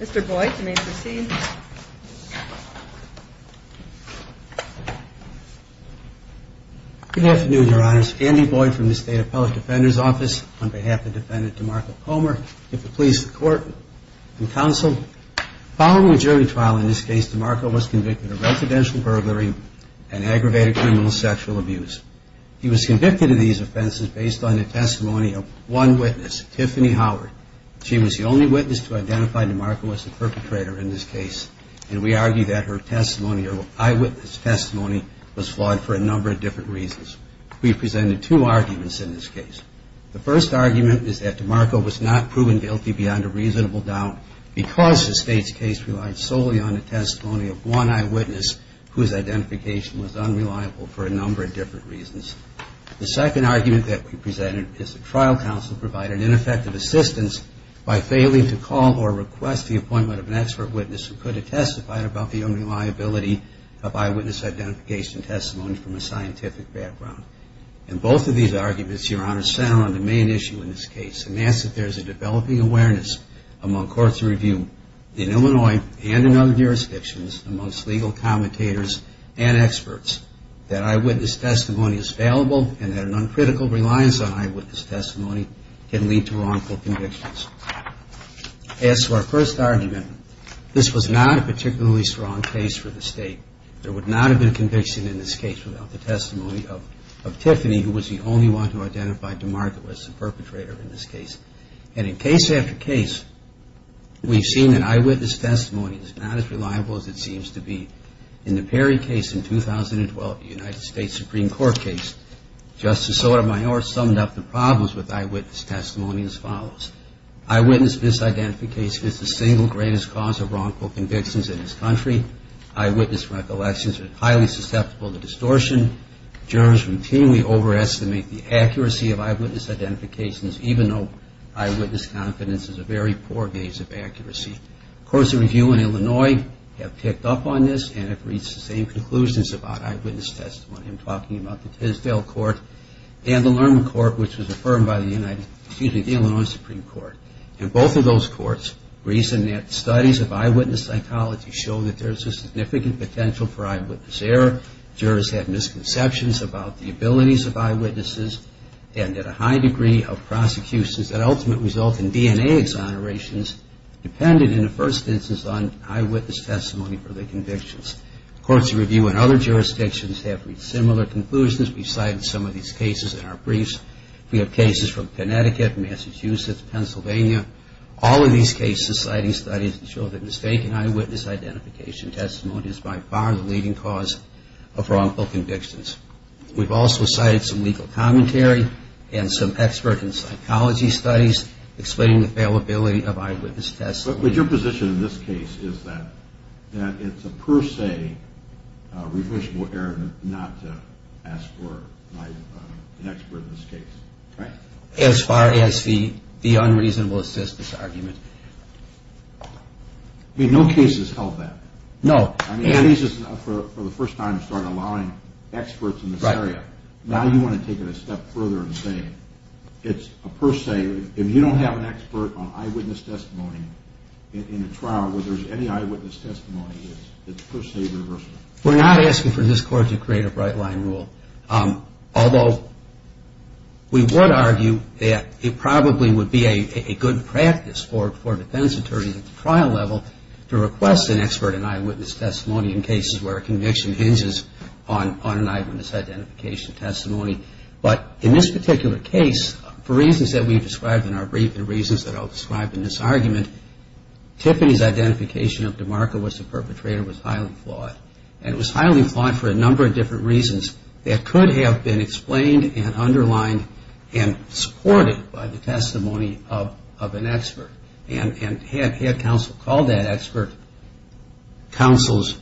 Mr. Boyd, you may proceed. Good afternoon, Your Honors. Andy Boyd from the State Appellate Defender's Office on behalf of Defendant DeMarco Comer. If it pleases the Court and Counsel, following the jury trial in this case, DeMarco was convicted of residential burglary and aggravated criminal sexual abuse. He was convicted of these offenses based on the testimony of one witness, Tiffany Howard. She was the only witness to identify DeMarco as the perpetrator in this case and we argue that her testimony or eyewitness testimony was flawed for a number of different reasons. The second argument that we presented is the trial counsel provided ineffective assistance by failing to call or request the appointment of an expert witness who could have testified about the unreliability of eyewitness identification testimony from a scientific background. And both of these arguments, Your Honor, the trial counsel provided ineffective assistance among courts of review in Illinois and in other jurisdictions amongst legal commentators and experts that eyewitness testimony is fallible and that an uncritical reliance on eyewitness testimony can lead to wrongful convictions. As to our first argument, this was not a particularly strong case for the case. We've seen that eyewitness testimony is not as reliable as it seems to be. In the Perry case in 2012, the United States Supreme Court case, Justice Sotomayor summed up the problems with eyewitness testimony as follows. Eyewitness disidentification is the single greatest cause of wrongful convictions in this country. Eyewitness recollections are highly susceptible to distortion. Jurors routinely overestimate the accuracy of eyewitness identifications, even though eyewitness confidence is a very poor gauge of accuracy. Courts of review in Illinois have picked up on this and have reached the same conclusions about eyewitness testimony. I'm talking about the Tisdale Court and the Lerman Court, which was a significant potential for eyewitness error. Jurors had misconceptions about the abilities of eyewitnesses and had a high degree of prosecutions that ultimately result in DNA exonerations dependent, in the first instance, on eyewitness testimony for the convictions. Courts of review in other jurisdictions have reached similar conclusions. We've cited some of these cases in our briefs. We have cases from Connecticut, Massachusetts, Pennsylvania. All of these cases, citing studies that show that mistaken eyewitness identification testimony is by far the leading cause of wrongful convictions. We've also cited some legal commentary and some expert in psychology studies explaining the unreasonable assistance argument. We're not asking for this Court to create a bright-line rule. Although, we would argue that it probably would be a good practice for defense attorneys at the trial level to create a bright-line rule. In this particular case, for reasons that we've described in our brief and reasons that I'll describe in this argument, Tiffany's identification of DeMarco as the perpetrator was highly flawed. And it was highly flawed for a number of different reasons that could have been explained and underlined and supported by the testimony of an expert. And had counsel called that expert, counsel's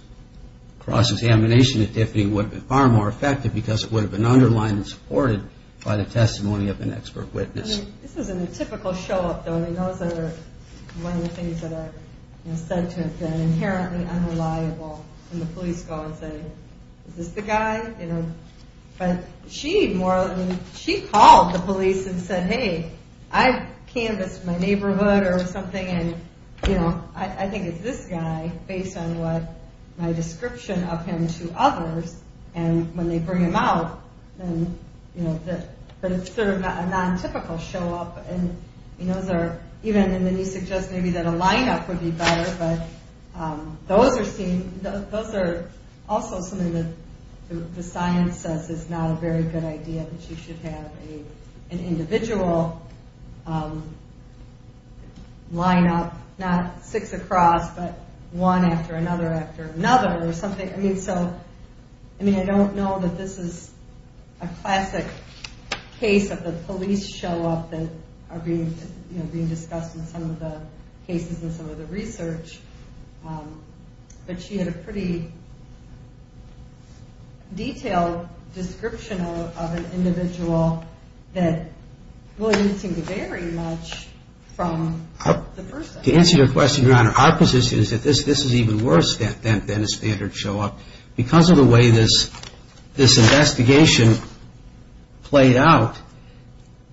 cross-examination of Tiffany would have been far more effective because it would have been underlined and supported by the testimony of an expert witness. This isn't a typical show-up, though. I mean, those are one of the things that are said to have been inherently unreliable when the police go and say, is this the guy? But she called the police and said, hey, I've canvassed my neighborhood or something, and I think it's this guy based on my description of him to others. And when they bring him out, then, you know, but it's sort of a non-typical show-up. And those are, even, and then you suggest maybe that a line-up would be better, but those are also something that the science says is not a very good idea, that you should have an individual line-up, not six across, but one after another after another or something. I mean, so, I mean, I don't know that this is a classic case of the police show-up that are being, you know, being discussed in some of the cases and some of the research, but she had a pretty detailed description of an individual that really didn't seem to vary much from the person. To answer your question, Your Honor, our position is that this is even worse than a standard show-up. Because of the way this investigation played out,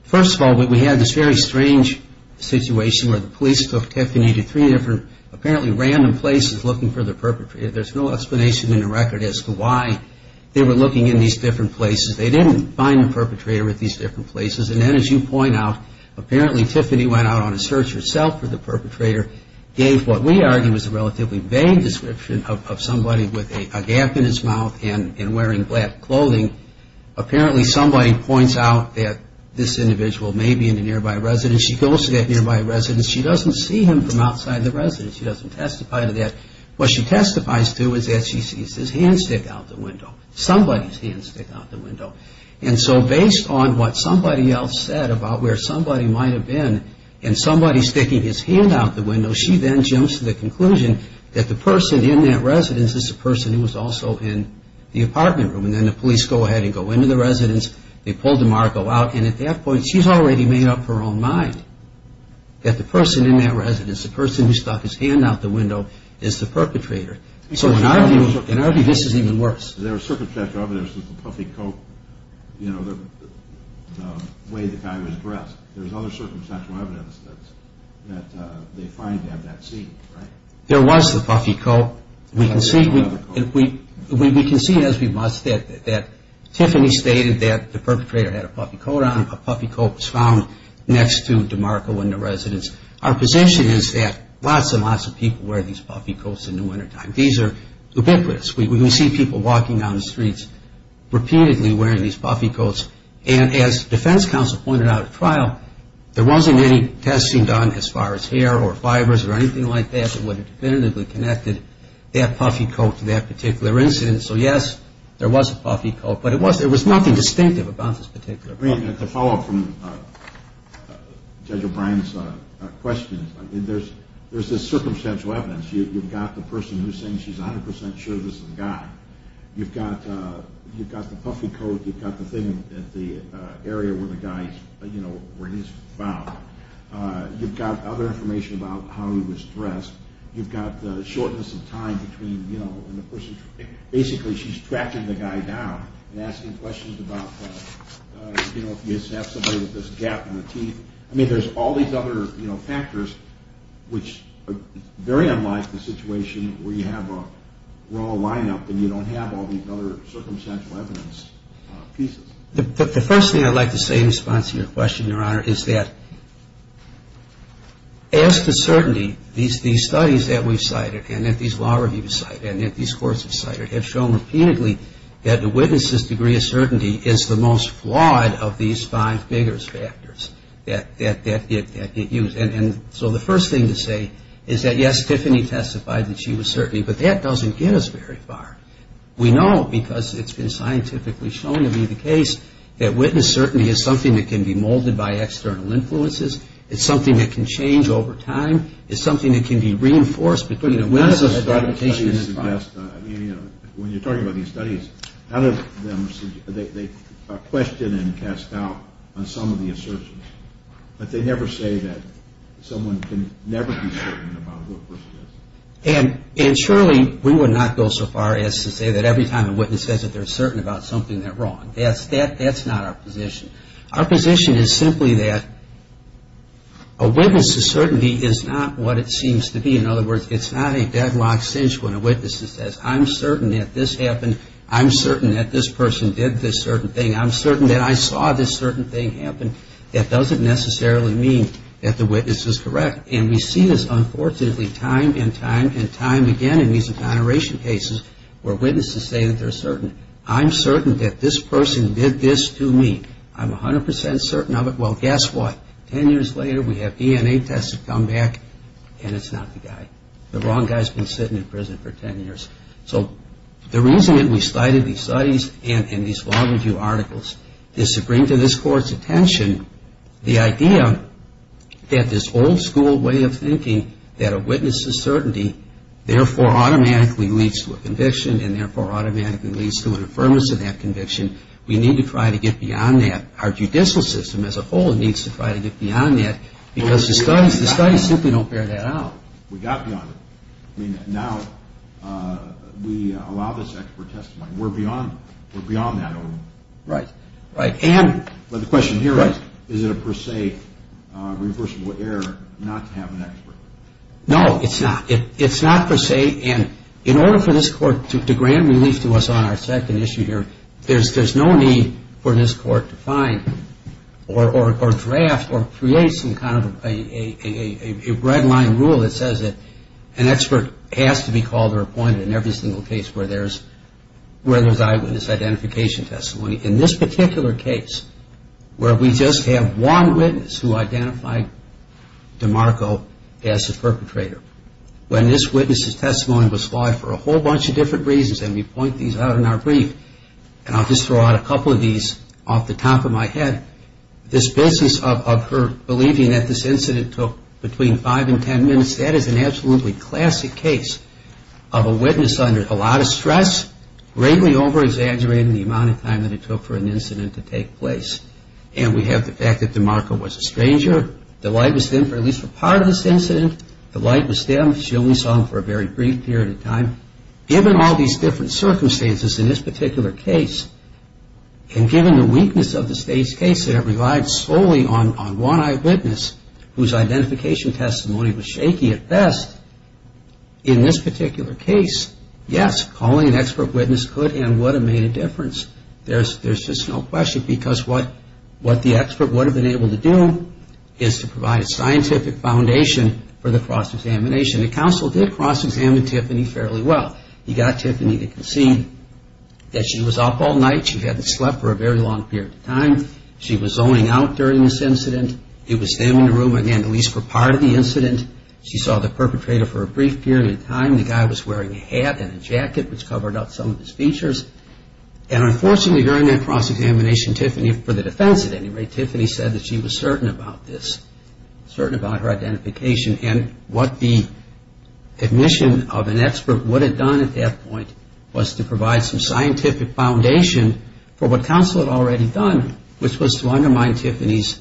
first of all, we had this very strange situation where the police took Tiffany to three different apparently random places looking for the perpetrator. There's no explanation in the record as to why they were looking in these different places. They didn't find the perpetrator at these different places. And then, as you point out, apparently Tiffany went out on a search herself for the perpetrator, gave what we argue is a relatively vague description of somebody with a gap in his mouth and wearing black clothing. Apparently somebody points out that this individual may be in a nearby residence. She goes to that nearby residence. She doesn't see him from outside the residence. She doesn't testify to that. What she testifies to is that she sees his hand stick out the window. Somebody's hand stick out the window. And so, based on what somebody else said about where somebody might have been and somebody sticking his hand out the window, she then jumps to the conclusion that the person in that residence is the person who was also in the apartment room. And then the police go ahead and go into the residence. They pull DeMarco out. And at that point, she's already made up her own mind that the person in that residence, the person who stuck his hand out the window, is the perpetrator. So in our view, this is even worse. There was circumstantial evidence that the puffy coat, you know, the way the guy was dressed, there's other circumstantial evidence that they find to have that scene, right? There was the puffy coat. We can see as we must that Tiffany stated that the perpetrator had a puffy coat on. A puffy coat was found next to DeMarco in the residence. Our position is that lots and lots of people wear these puffy coats in the wintertime. These are ubiquitous. We see people walking down the streets repeatedly wearing these puffy coats. And as defense counsel pointed out at trial, there wasn't any testing done as far as hair or fibers or anything like that that would have definitively connected that puffy coat to that particular incident. So yes, there was a puffy coat. But it was nothing distinctive about this particular crime. I mean, to follow up from Judge O'Brien's question, there's this circumstantial evidence. You've got the person who's saying she's 100% sure this is the guy. You've got the puffy coat. You've got the thing at the area where the guy, you know, where he's found. You've got other information about how he was dressed. You've got the shortness of time between, you know, basically she's tracking the guy down and asking questions about, you know, if you have somebody with this gap in the teeth. I mean, there's all these other, you know, factors which are very unlike the situation where you have a raw lineup and you don't have all these other circumstantial evidence pieces. But the first thing I'd like to say in response to your question, Your Honor, is that as to certainty, these studies that we've cited and that these law reviewers cited and that these courts have cited have shown repeatedly that the witness's degree of certainty is the most flawed of these five biggest factors that get used. And so the first thing to say is that, yes, Tiffany testified that she was certain, but that doesn't get us very far. We know, because it's been scientifically shown to be the case, that witness certainty is something that can be molded by external influences. It's something that can change over time. It's something that can be reinforced between a witness and a documentation. And surely we would not go so far as to say that every time a witness says that they're certain about something, they're wrong. That's not our position. Our position is simply that a witness's certainty is not what it seems to be. In other words, it's not a deadlocked cinch when a witness says, I'm certain that this happened. I'm certain that this person did this certain thing. I'm certain that I saw this certain thing happen. That doesn't necessarily mean that the witness is correct. And we see this, unfortunately, time and time and time again in these exoneration cases where witnesses say that they're certain. I'm certain that this person did this to me. I'm 100 percent certain of it. Well, guess what? Ten years later, we have DNA tests that come back, and it's not the guy. The wrong guy's been sitting in prison for ten years. So the reason that we cited these studies and these law review articles is to bring to this Court's attention the idea that this old school way of thinking that a witness's certainty therefore automatically leads to a conviction and therefore automatically leads to an affirmation of that conviction, we need to try to get beyond that. Our judicial system as a whole needs to try to get beyond that because the studies simply don't bear that out. We got beyond it. I mean, now we allow this expert testimony. We're beyond that. Right, right. But the question here is, is it a per se reversible error not to have an expert? No, it's not. It's not per se. And in order for this Court to grant relief to us on our second issue here, there's no need for this Court to find or draft or create some kind of a red line rule that says that an expert has to be called or appointed in every single case where there's eyewitness identification testimony. In this particular case where we just have one witness who identified DeMarco as the perpetrator, when this witness's testimony was flawed for a whole bunch of different reasons, and we point these out in our brief, and I'll just throw out a couple of these off the top of my head, this business of her believing that this incident took between five and ten minutes, that is an absolutely classic case of a witness under a lot of stress, greatly over-exaggerating the amount of time that it took. And we have the fact that DeMarco was a stranger. The light was dimmed for at least a part of this incident. The light was dimmed. She only saw him for a very brief period of time. Given all these different circumstances in this particular case, and given the weakness of the State's case that it relied solely on one eyewitness whose identification testimony was shaky at best, in this particular case, yes, calling an expert witness could and would have made a difference. There's just no question, because what the expert would have been able to do is to provide a scientific foundation for the cross-examination. The counsel did cross-examine Tiffany fairly well. He got Tiffany to concede that she was up all night. She hadn't slept for a very long period of time. She was zoning out during this incident. It was dim in the room, again, at least for part of the incident. She saw the perpetrator for a brief period of time. The guy was wearing a hat and a jacket, which covered up some of his features. And unfortunately, during that cross-examination, Tiffany, for the defense at any rate, Tiffany said that she was certain about this, certain about her identification. And what the admission of an expert would have done at that point was to provide some scientific foundation for what counsel had already done, which was to undermine Tiffany's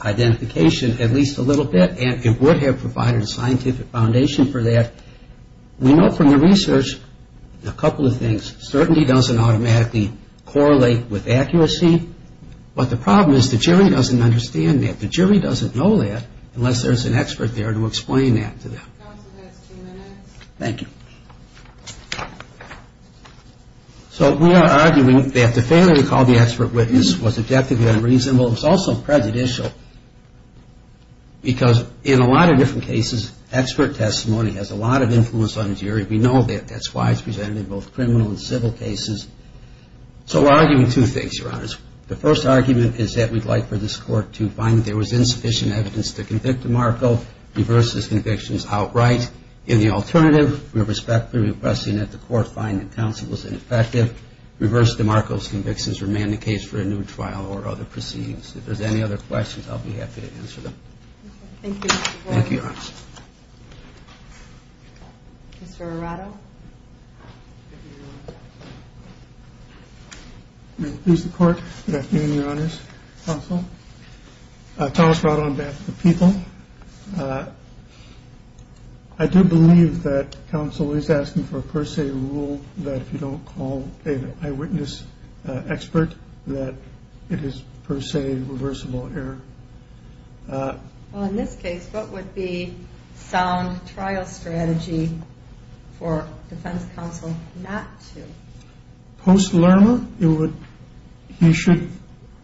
identification at least a little bit. And it would have provided a scientific foundation for that. We know from the research a couple of things. Certainty doesn't automatically correlate with accuracy. But the problem is the jury doesn't understand that. The jury doesn't know that unless there's an expert there to explain that to them. Thank you. So we are arguing that the failure to call the expert witness was objectively unreasonable. It was also prejudicial because in a lot of different cases, expert testimony has a lot of influence on the jury. We know that. That's why it's presented in both criminal and civil cases. So we're arguing two things, Your Honors. The first argument is that we'd like for this Court to find that there was insufficient evidence to convict DeMarco, reverse his convictions outright. In the alternative, we respectfully request that the Court find that counsel was ineffective, reverse DeMarco's convictions, or man the case for a new trial or other proceedings. If there's any other questions, I'll be happy to answer them. Thank you, Your Honor. Thank you, Your Honor. Mr. Arado. Please, the Court. Good afternoon, Your Honors. Counsel. Thomas Arado on behalf of the people. I do believe that counsel is asking for a per se rule that if you don't call an eyewitness expert that it is per se reversible error. Well, in this case, what would be sound trial strategy for defense counsel not to? Post-Lurma, he should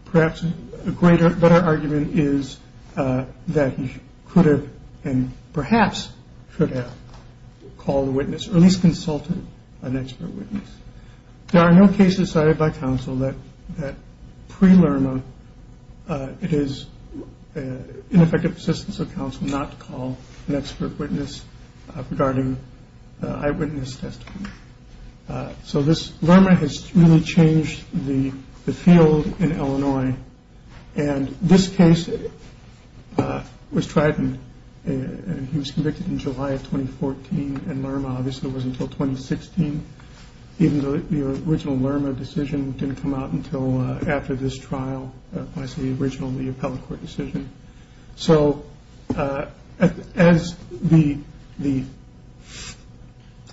perhaps a greater better argument is that he could have and perhaps could have called a witness or at least consulted an expert witness. There are no cases cited by counsel that pre-Lurma it is ineffective assistance of counsel not to call an expert witness regarding the eyewitness testimony. So this Lurma has really changed the field in Illinois. And this case was tried and he was convicted in July of 2014. And Lurma obviously wasn't until 2016, even though the original Lurma decision didn't come out until after this trial. So as the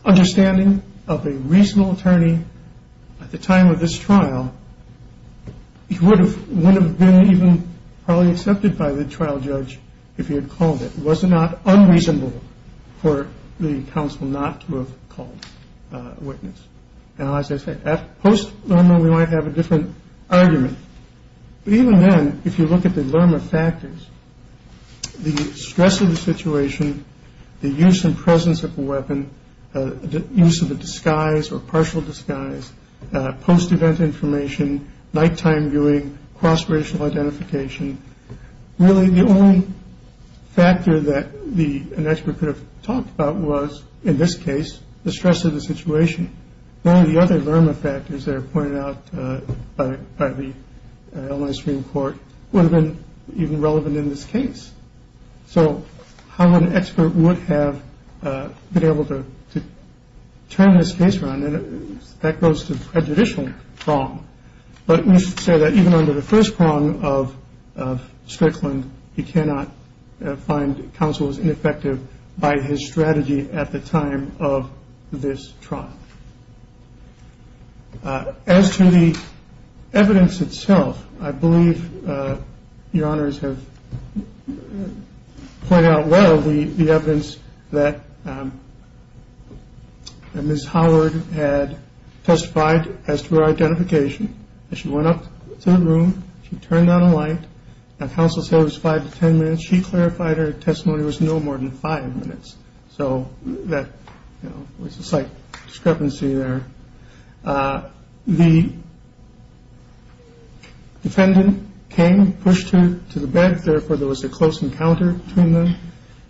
understanding of a reasonable attorney at the time of this trial, he would have been even probably accepted by the trial judge if he had called it. It was not unreasonable for the counsel not to have called a witness. Now, as I say, post-Lurma, we might have a different argument. Even then, if you look at the Lurma factors, the stress of the situation, the use and presence of a weapon, the use of a disguise or partial disguise, post-event information, nighttime viewing, cross-racial identification. Really, the only factor that an expert could have talked about was, in this case, the stress of the situation. One of the other Lurma factors that are pointed out by the Illinois Supreme Court would have been even relevant in this case. So how an expert would have been able to turn this case around, that goes to prejudicial prong. But we should say that even under the first prong of Strickland, he cannot find counsel as ineffective by his strategy at the time of this trial. As to the evidence itself, I believe Your Honors have pointed out well the evidence that Ms. Howard had testified as to her identification. As she went up to the room, she turned on a light, and counsel said it was five to ten minutes. She clarified her testimony was no more than five minutes. So that was a slight discrepancy there. The defendant came, pushed her to the bed. Therefore, there was a close encounter between them.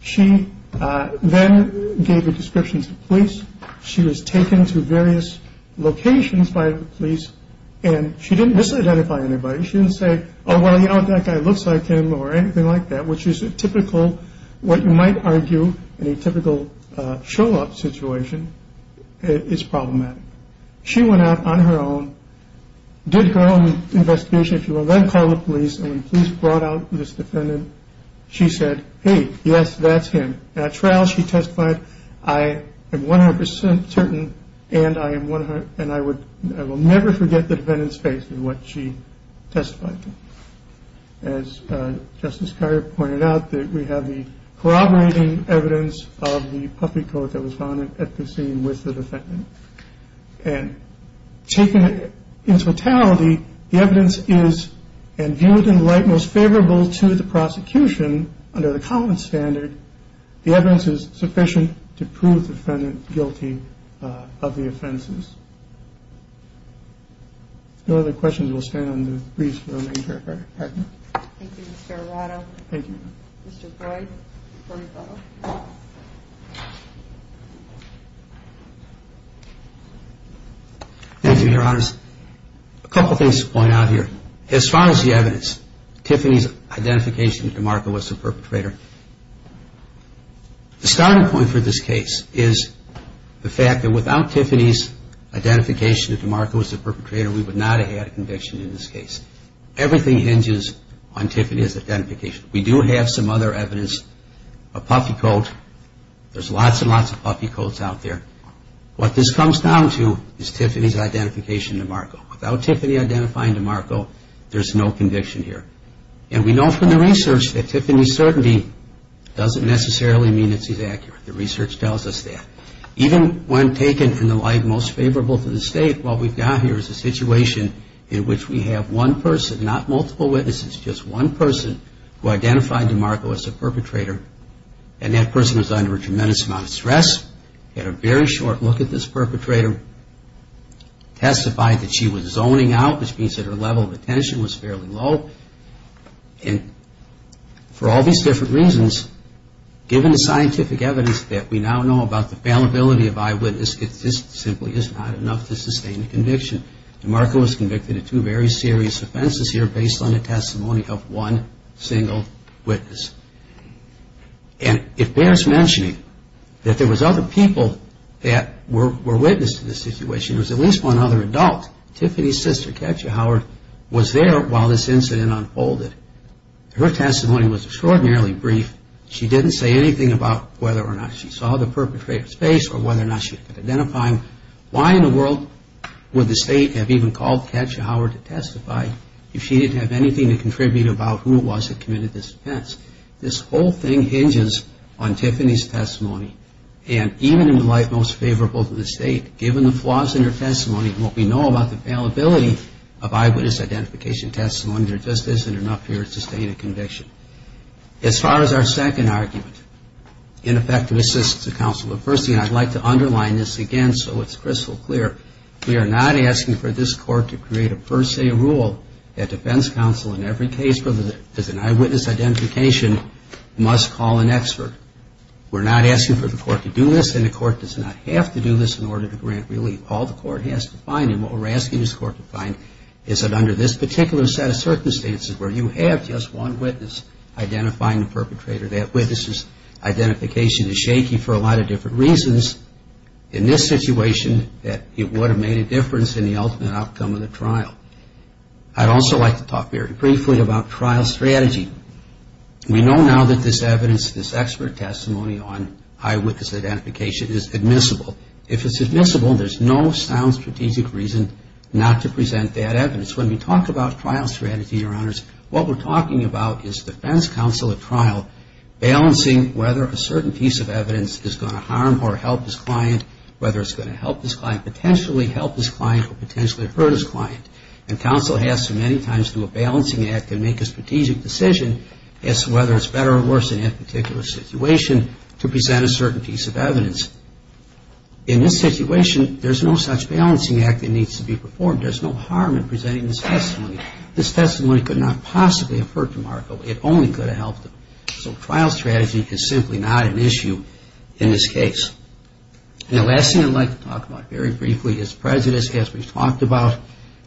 She then gave a description to police. She was taken to various locations by the police, and she didn't misidentify anybody. She didn't say, oh, well, you know, that guy looks like him or anything like that, which is typical. What you might argue in a typical show-up situation is problematic. She went out on her own, did her own investigation. She was then called to police, and when police brought out this defendant, she said, hey, yes, that's him. At trial, she testified, I am 100 percent certain, and I will never forget the defendant's face in what she testified to. As Justice Carrier pointed out, we have the corroborating evidence of the puppy coat that was found at the scene with the defendant. And taken in totality, the evidence is, and viewed in the light most favorable to the prosecution under the common standard, the evidence is sufficient to prove the defendant guilty of the offenses. No other questions, we'll stand on the briefs for our main character. Thank you, Mr. Arado. Thank you. Mr. Freud. Thank you, Your Honors. A couple things to point out here. As far as the evidence, Tiffany's identification with DeMarco was the perpetrator. The starting point for this case is the fact that without Tiffany's identification that DeMarco was the perpetrator, we would not have had a conviction in this case. Everything hinges on Tiffany's identification. We do have some other evidence, a puppy coat. There's lots and lots of puppy coats out there. What this comes down to is Tiffany's identification of DeMarco. Without Tiffany identifying DeMarco, there's no conviction here. And we know from the research that Tiffany's certainty doesn't necessarily mean that she's accurate. The research tells us that. Even when taken in the light most favorable to the state, what we've got here is a situation in which we have one person, not multiple witnesses, just one person who identified DeMarco as the perpetrator, and that person was under a tremendous amount of stress, had a very short look at this perpetrator, testified that she was zoning out, which means that her level of attention was fairly low. And for all these different reasons, given the scientific evidence that we now know about the fallibility of eyewitness, this simply is not enough to sustain a conviction. DeMarco was convicted of two very serious offenses here based on the testimony of one single witness. And it bears mentioning that there was other people that were witness to this situation. There was at least one other adult. Tiffany's sister, Katja Howard, was there while this incident unfolded. Her testimony was extraordinarily brief. She didn't say anything about whether or not she saw the perpetrator's face or whether or not she could identify him. Why in the world would the state have even called Katja Howard to testify if she didn't have anything to contribute about who it was that committed this offense? This whole thing hinges on Tiffany's testimony. And even in the light most favorable to the state, given the flaws in her testimony and what we know about the fallibility of eyewitness identification testimony, there just isn't enough here to sustain a conviction. As far as our second argument, ineffective assistance to counsel, the first thing I'd like to underline this again so it's crystal clear, we are not asking for this Court to create a per se rule that defense counsel in every case where there's an eyewitness identification must call an expert. We're not asking for the Court to do this and the Court does not have to do this in order to grant relief. All the Court has to find and what we're asking this Court to find is that under this particular set of circumstances where you have just one witness identifying the perpetrator, that witness's identification is shaky for a lot of different reasons. In this situation, it would have made a difference in the ultimate outcome of the trial. I'd also like to talk very briefly about trial strategy. We know now that this evidence, this expert testimony on eyewitness identification is admissible. If it's admissible, there's no sound strategic reason not to present that evidence. When we talk about trial strategy, Your Honors, what we're talking about is defense counsel at trial balancing whether a certain piece of evidence is going to harm or help this client, whether it's going to help this client, potentially help this client or potentially hurt this client. And counsel has to many times do a balancing act and make a strategic decision as to whether it's better or worse in that particular situation to present a certain piece of evidence. In this situation, there's no such balancing act that needs to be performed. There's no harm in presenting this testimony. This testimony could not possibly have hurt DeMarco. It only could have helped him. So trial strategy is simply not an issue in this case. And the last thing I'd like to talk about very briefly is prejudice, as we've talked about.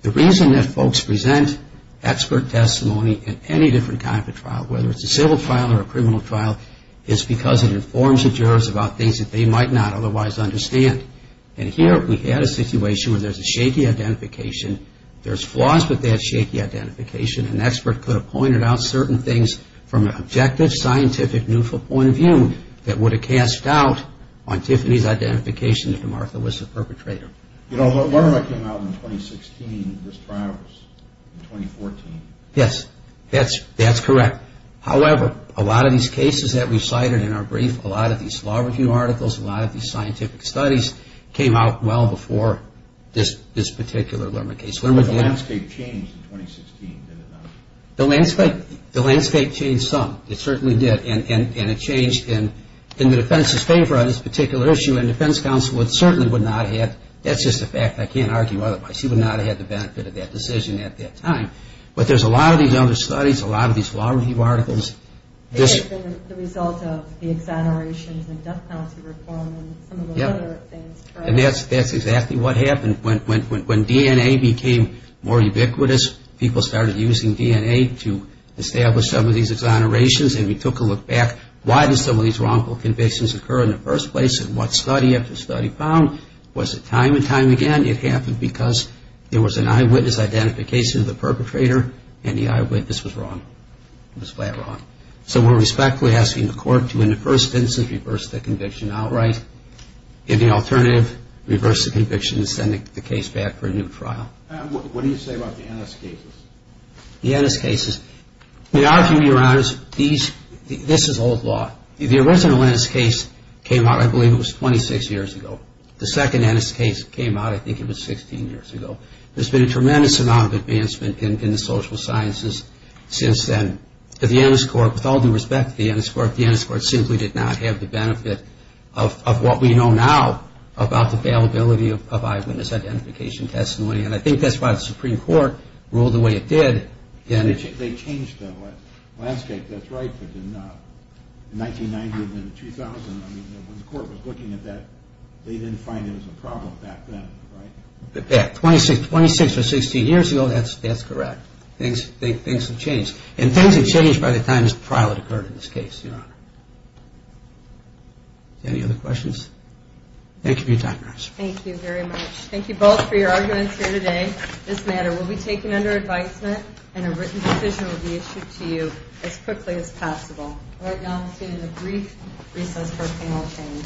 The reason that folks present expert testimony in any different kind of trial, whether it's a civil trial or a criminal trial, is because it informs the jurors about things that they might not otherwise understand. And here we had a situation where there's a shaky identification. There's flaws with that shaky identification. An expert could have pointed out certain things from an objective, scientific, neutral point of view that would have cast doubt on Tiffany's identification if DeMarco was the perpetrator. Yes, that's correct. However, a lot of these cases that we've cited in our brief, a lot of these law review articles, a lot of these scientific studies, came out well before this particular Lerman case. The landscape changed in 2016, did it not? The landscape changed some. It certainly did, and it changed in the defense's favor on this particular issue. And the defense counsel certainly would not have, that's just a fact, I can't argue otherwise, she would not have had the benefit of that decision at that time. But there's a lot of these other studies, a lot of these law review articles. And that's exactly what happened. When DNA became more ubiquitous, people started using DNA to establish some of these exonerations, and we took a look back, why did some of these wrongful convictions occur in the first place, and what study after study found was that time and time again, it happened because there was an eyewitness identification of the perpetrator, and the eyewitness was wrong. It was flat wrong. So we're respectfully asking the court to, in the first instance, reverse the conviction outright. In the alternative, reverse the conviction and send the case back for a new trial. What do you say about the Ennis cases? The Ennis cases, we argue, Your Honors, this is old law. The original Ennis case came out, I believe it was 26 years ago. The second Ennis case came out, I think it was 16 years ago. There's been a tremendous amount of advancement in the social sciences since then. The Ennis court, with all due respect to the Ennis court, the Ennis court simply did not have the benefit of what we know now about the availability of eyewitness identification testimony, and I think that's why the Supreme Court ruled the way it did. They changed the landscape, that's right, in 1990 and then 2000. I mean, when the court was looking at that, they didn't find it was a problem back then, right? Yeah, 26 or 16 years ago, that's correct. And things have changed by the time this trial had occurred in this case, Your Honor. Any other questions? Thank you for your time, Nurse. Thank you very much. Thank you both for your arguments here today. This matter will be taken under advisement, and a written decision will be issued to you as quickly as possible. Right now, we'll see you in a brief recess for a panel change.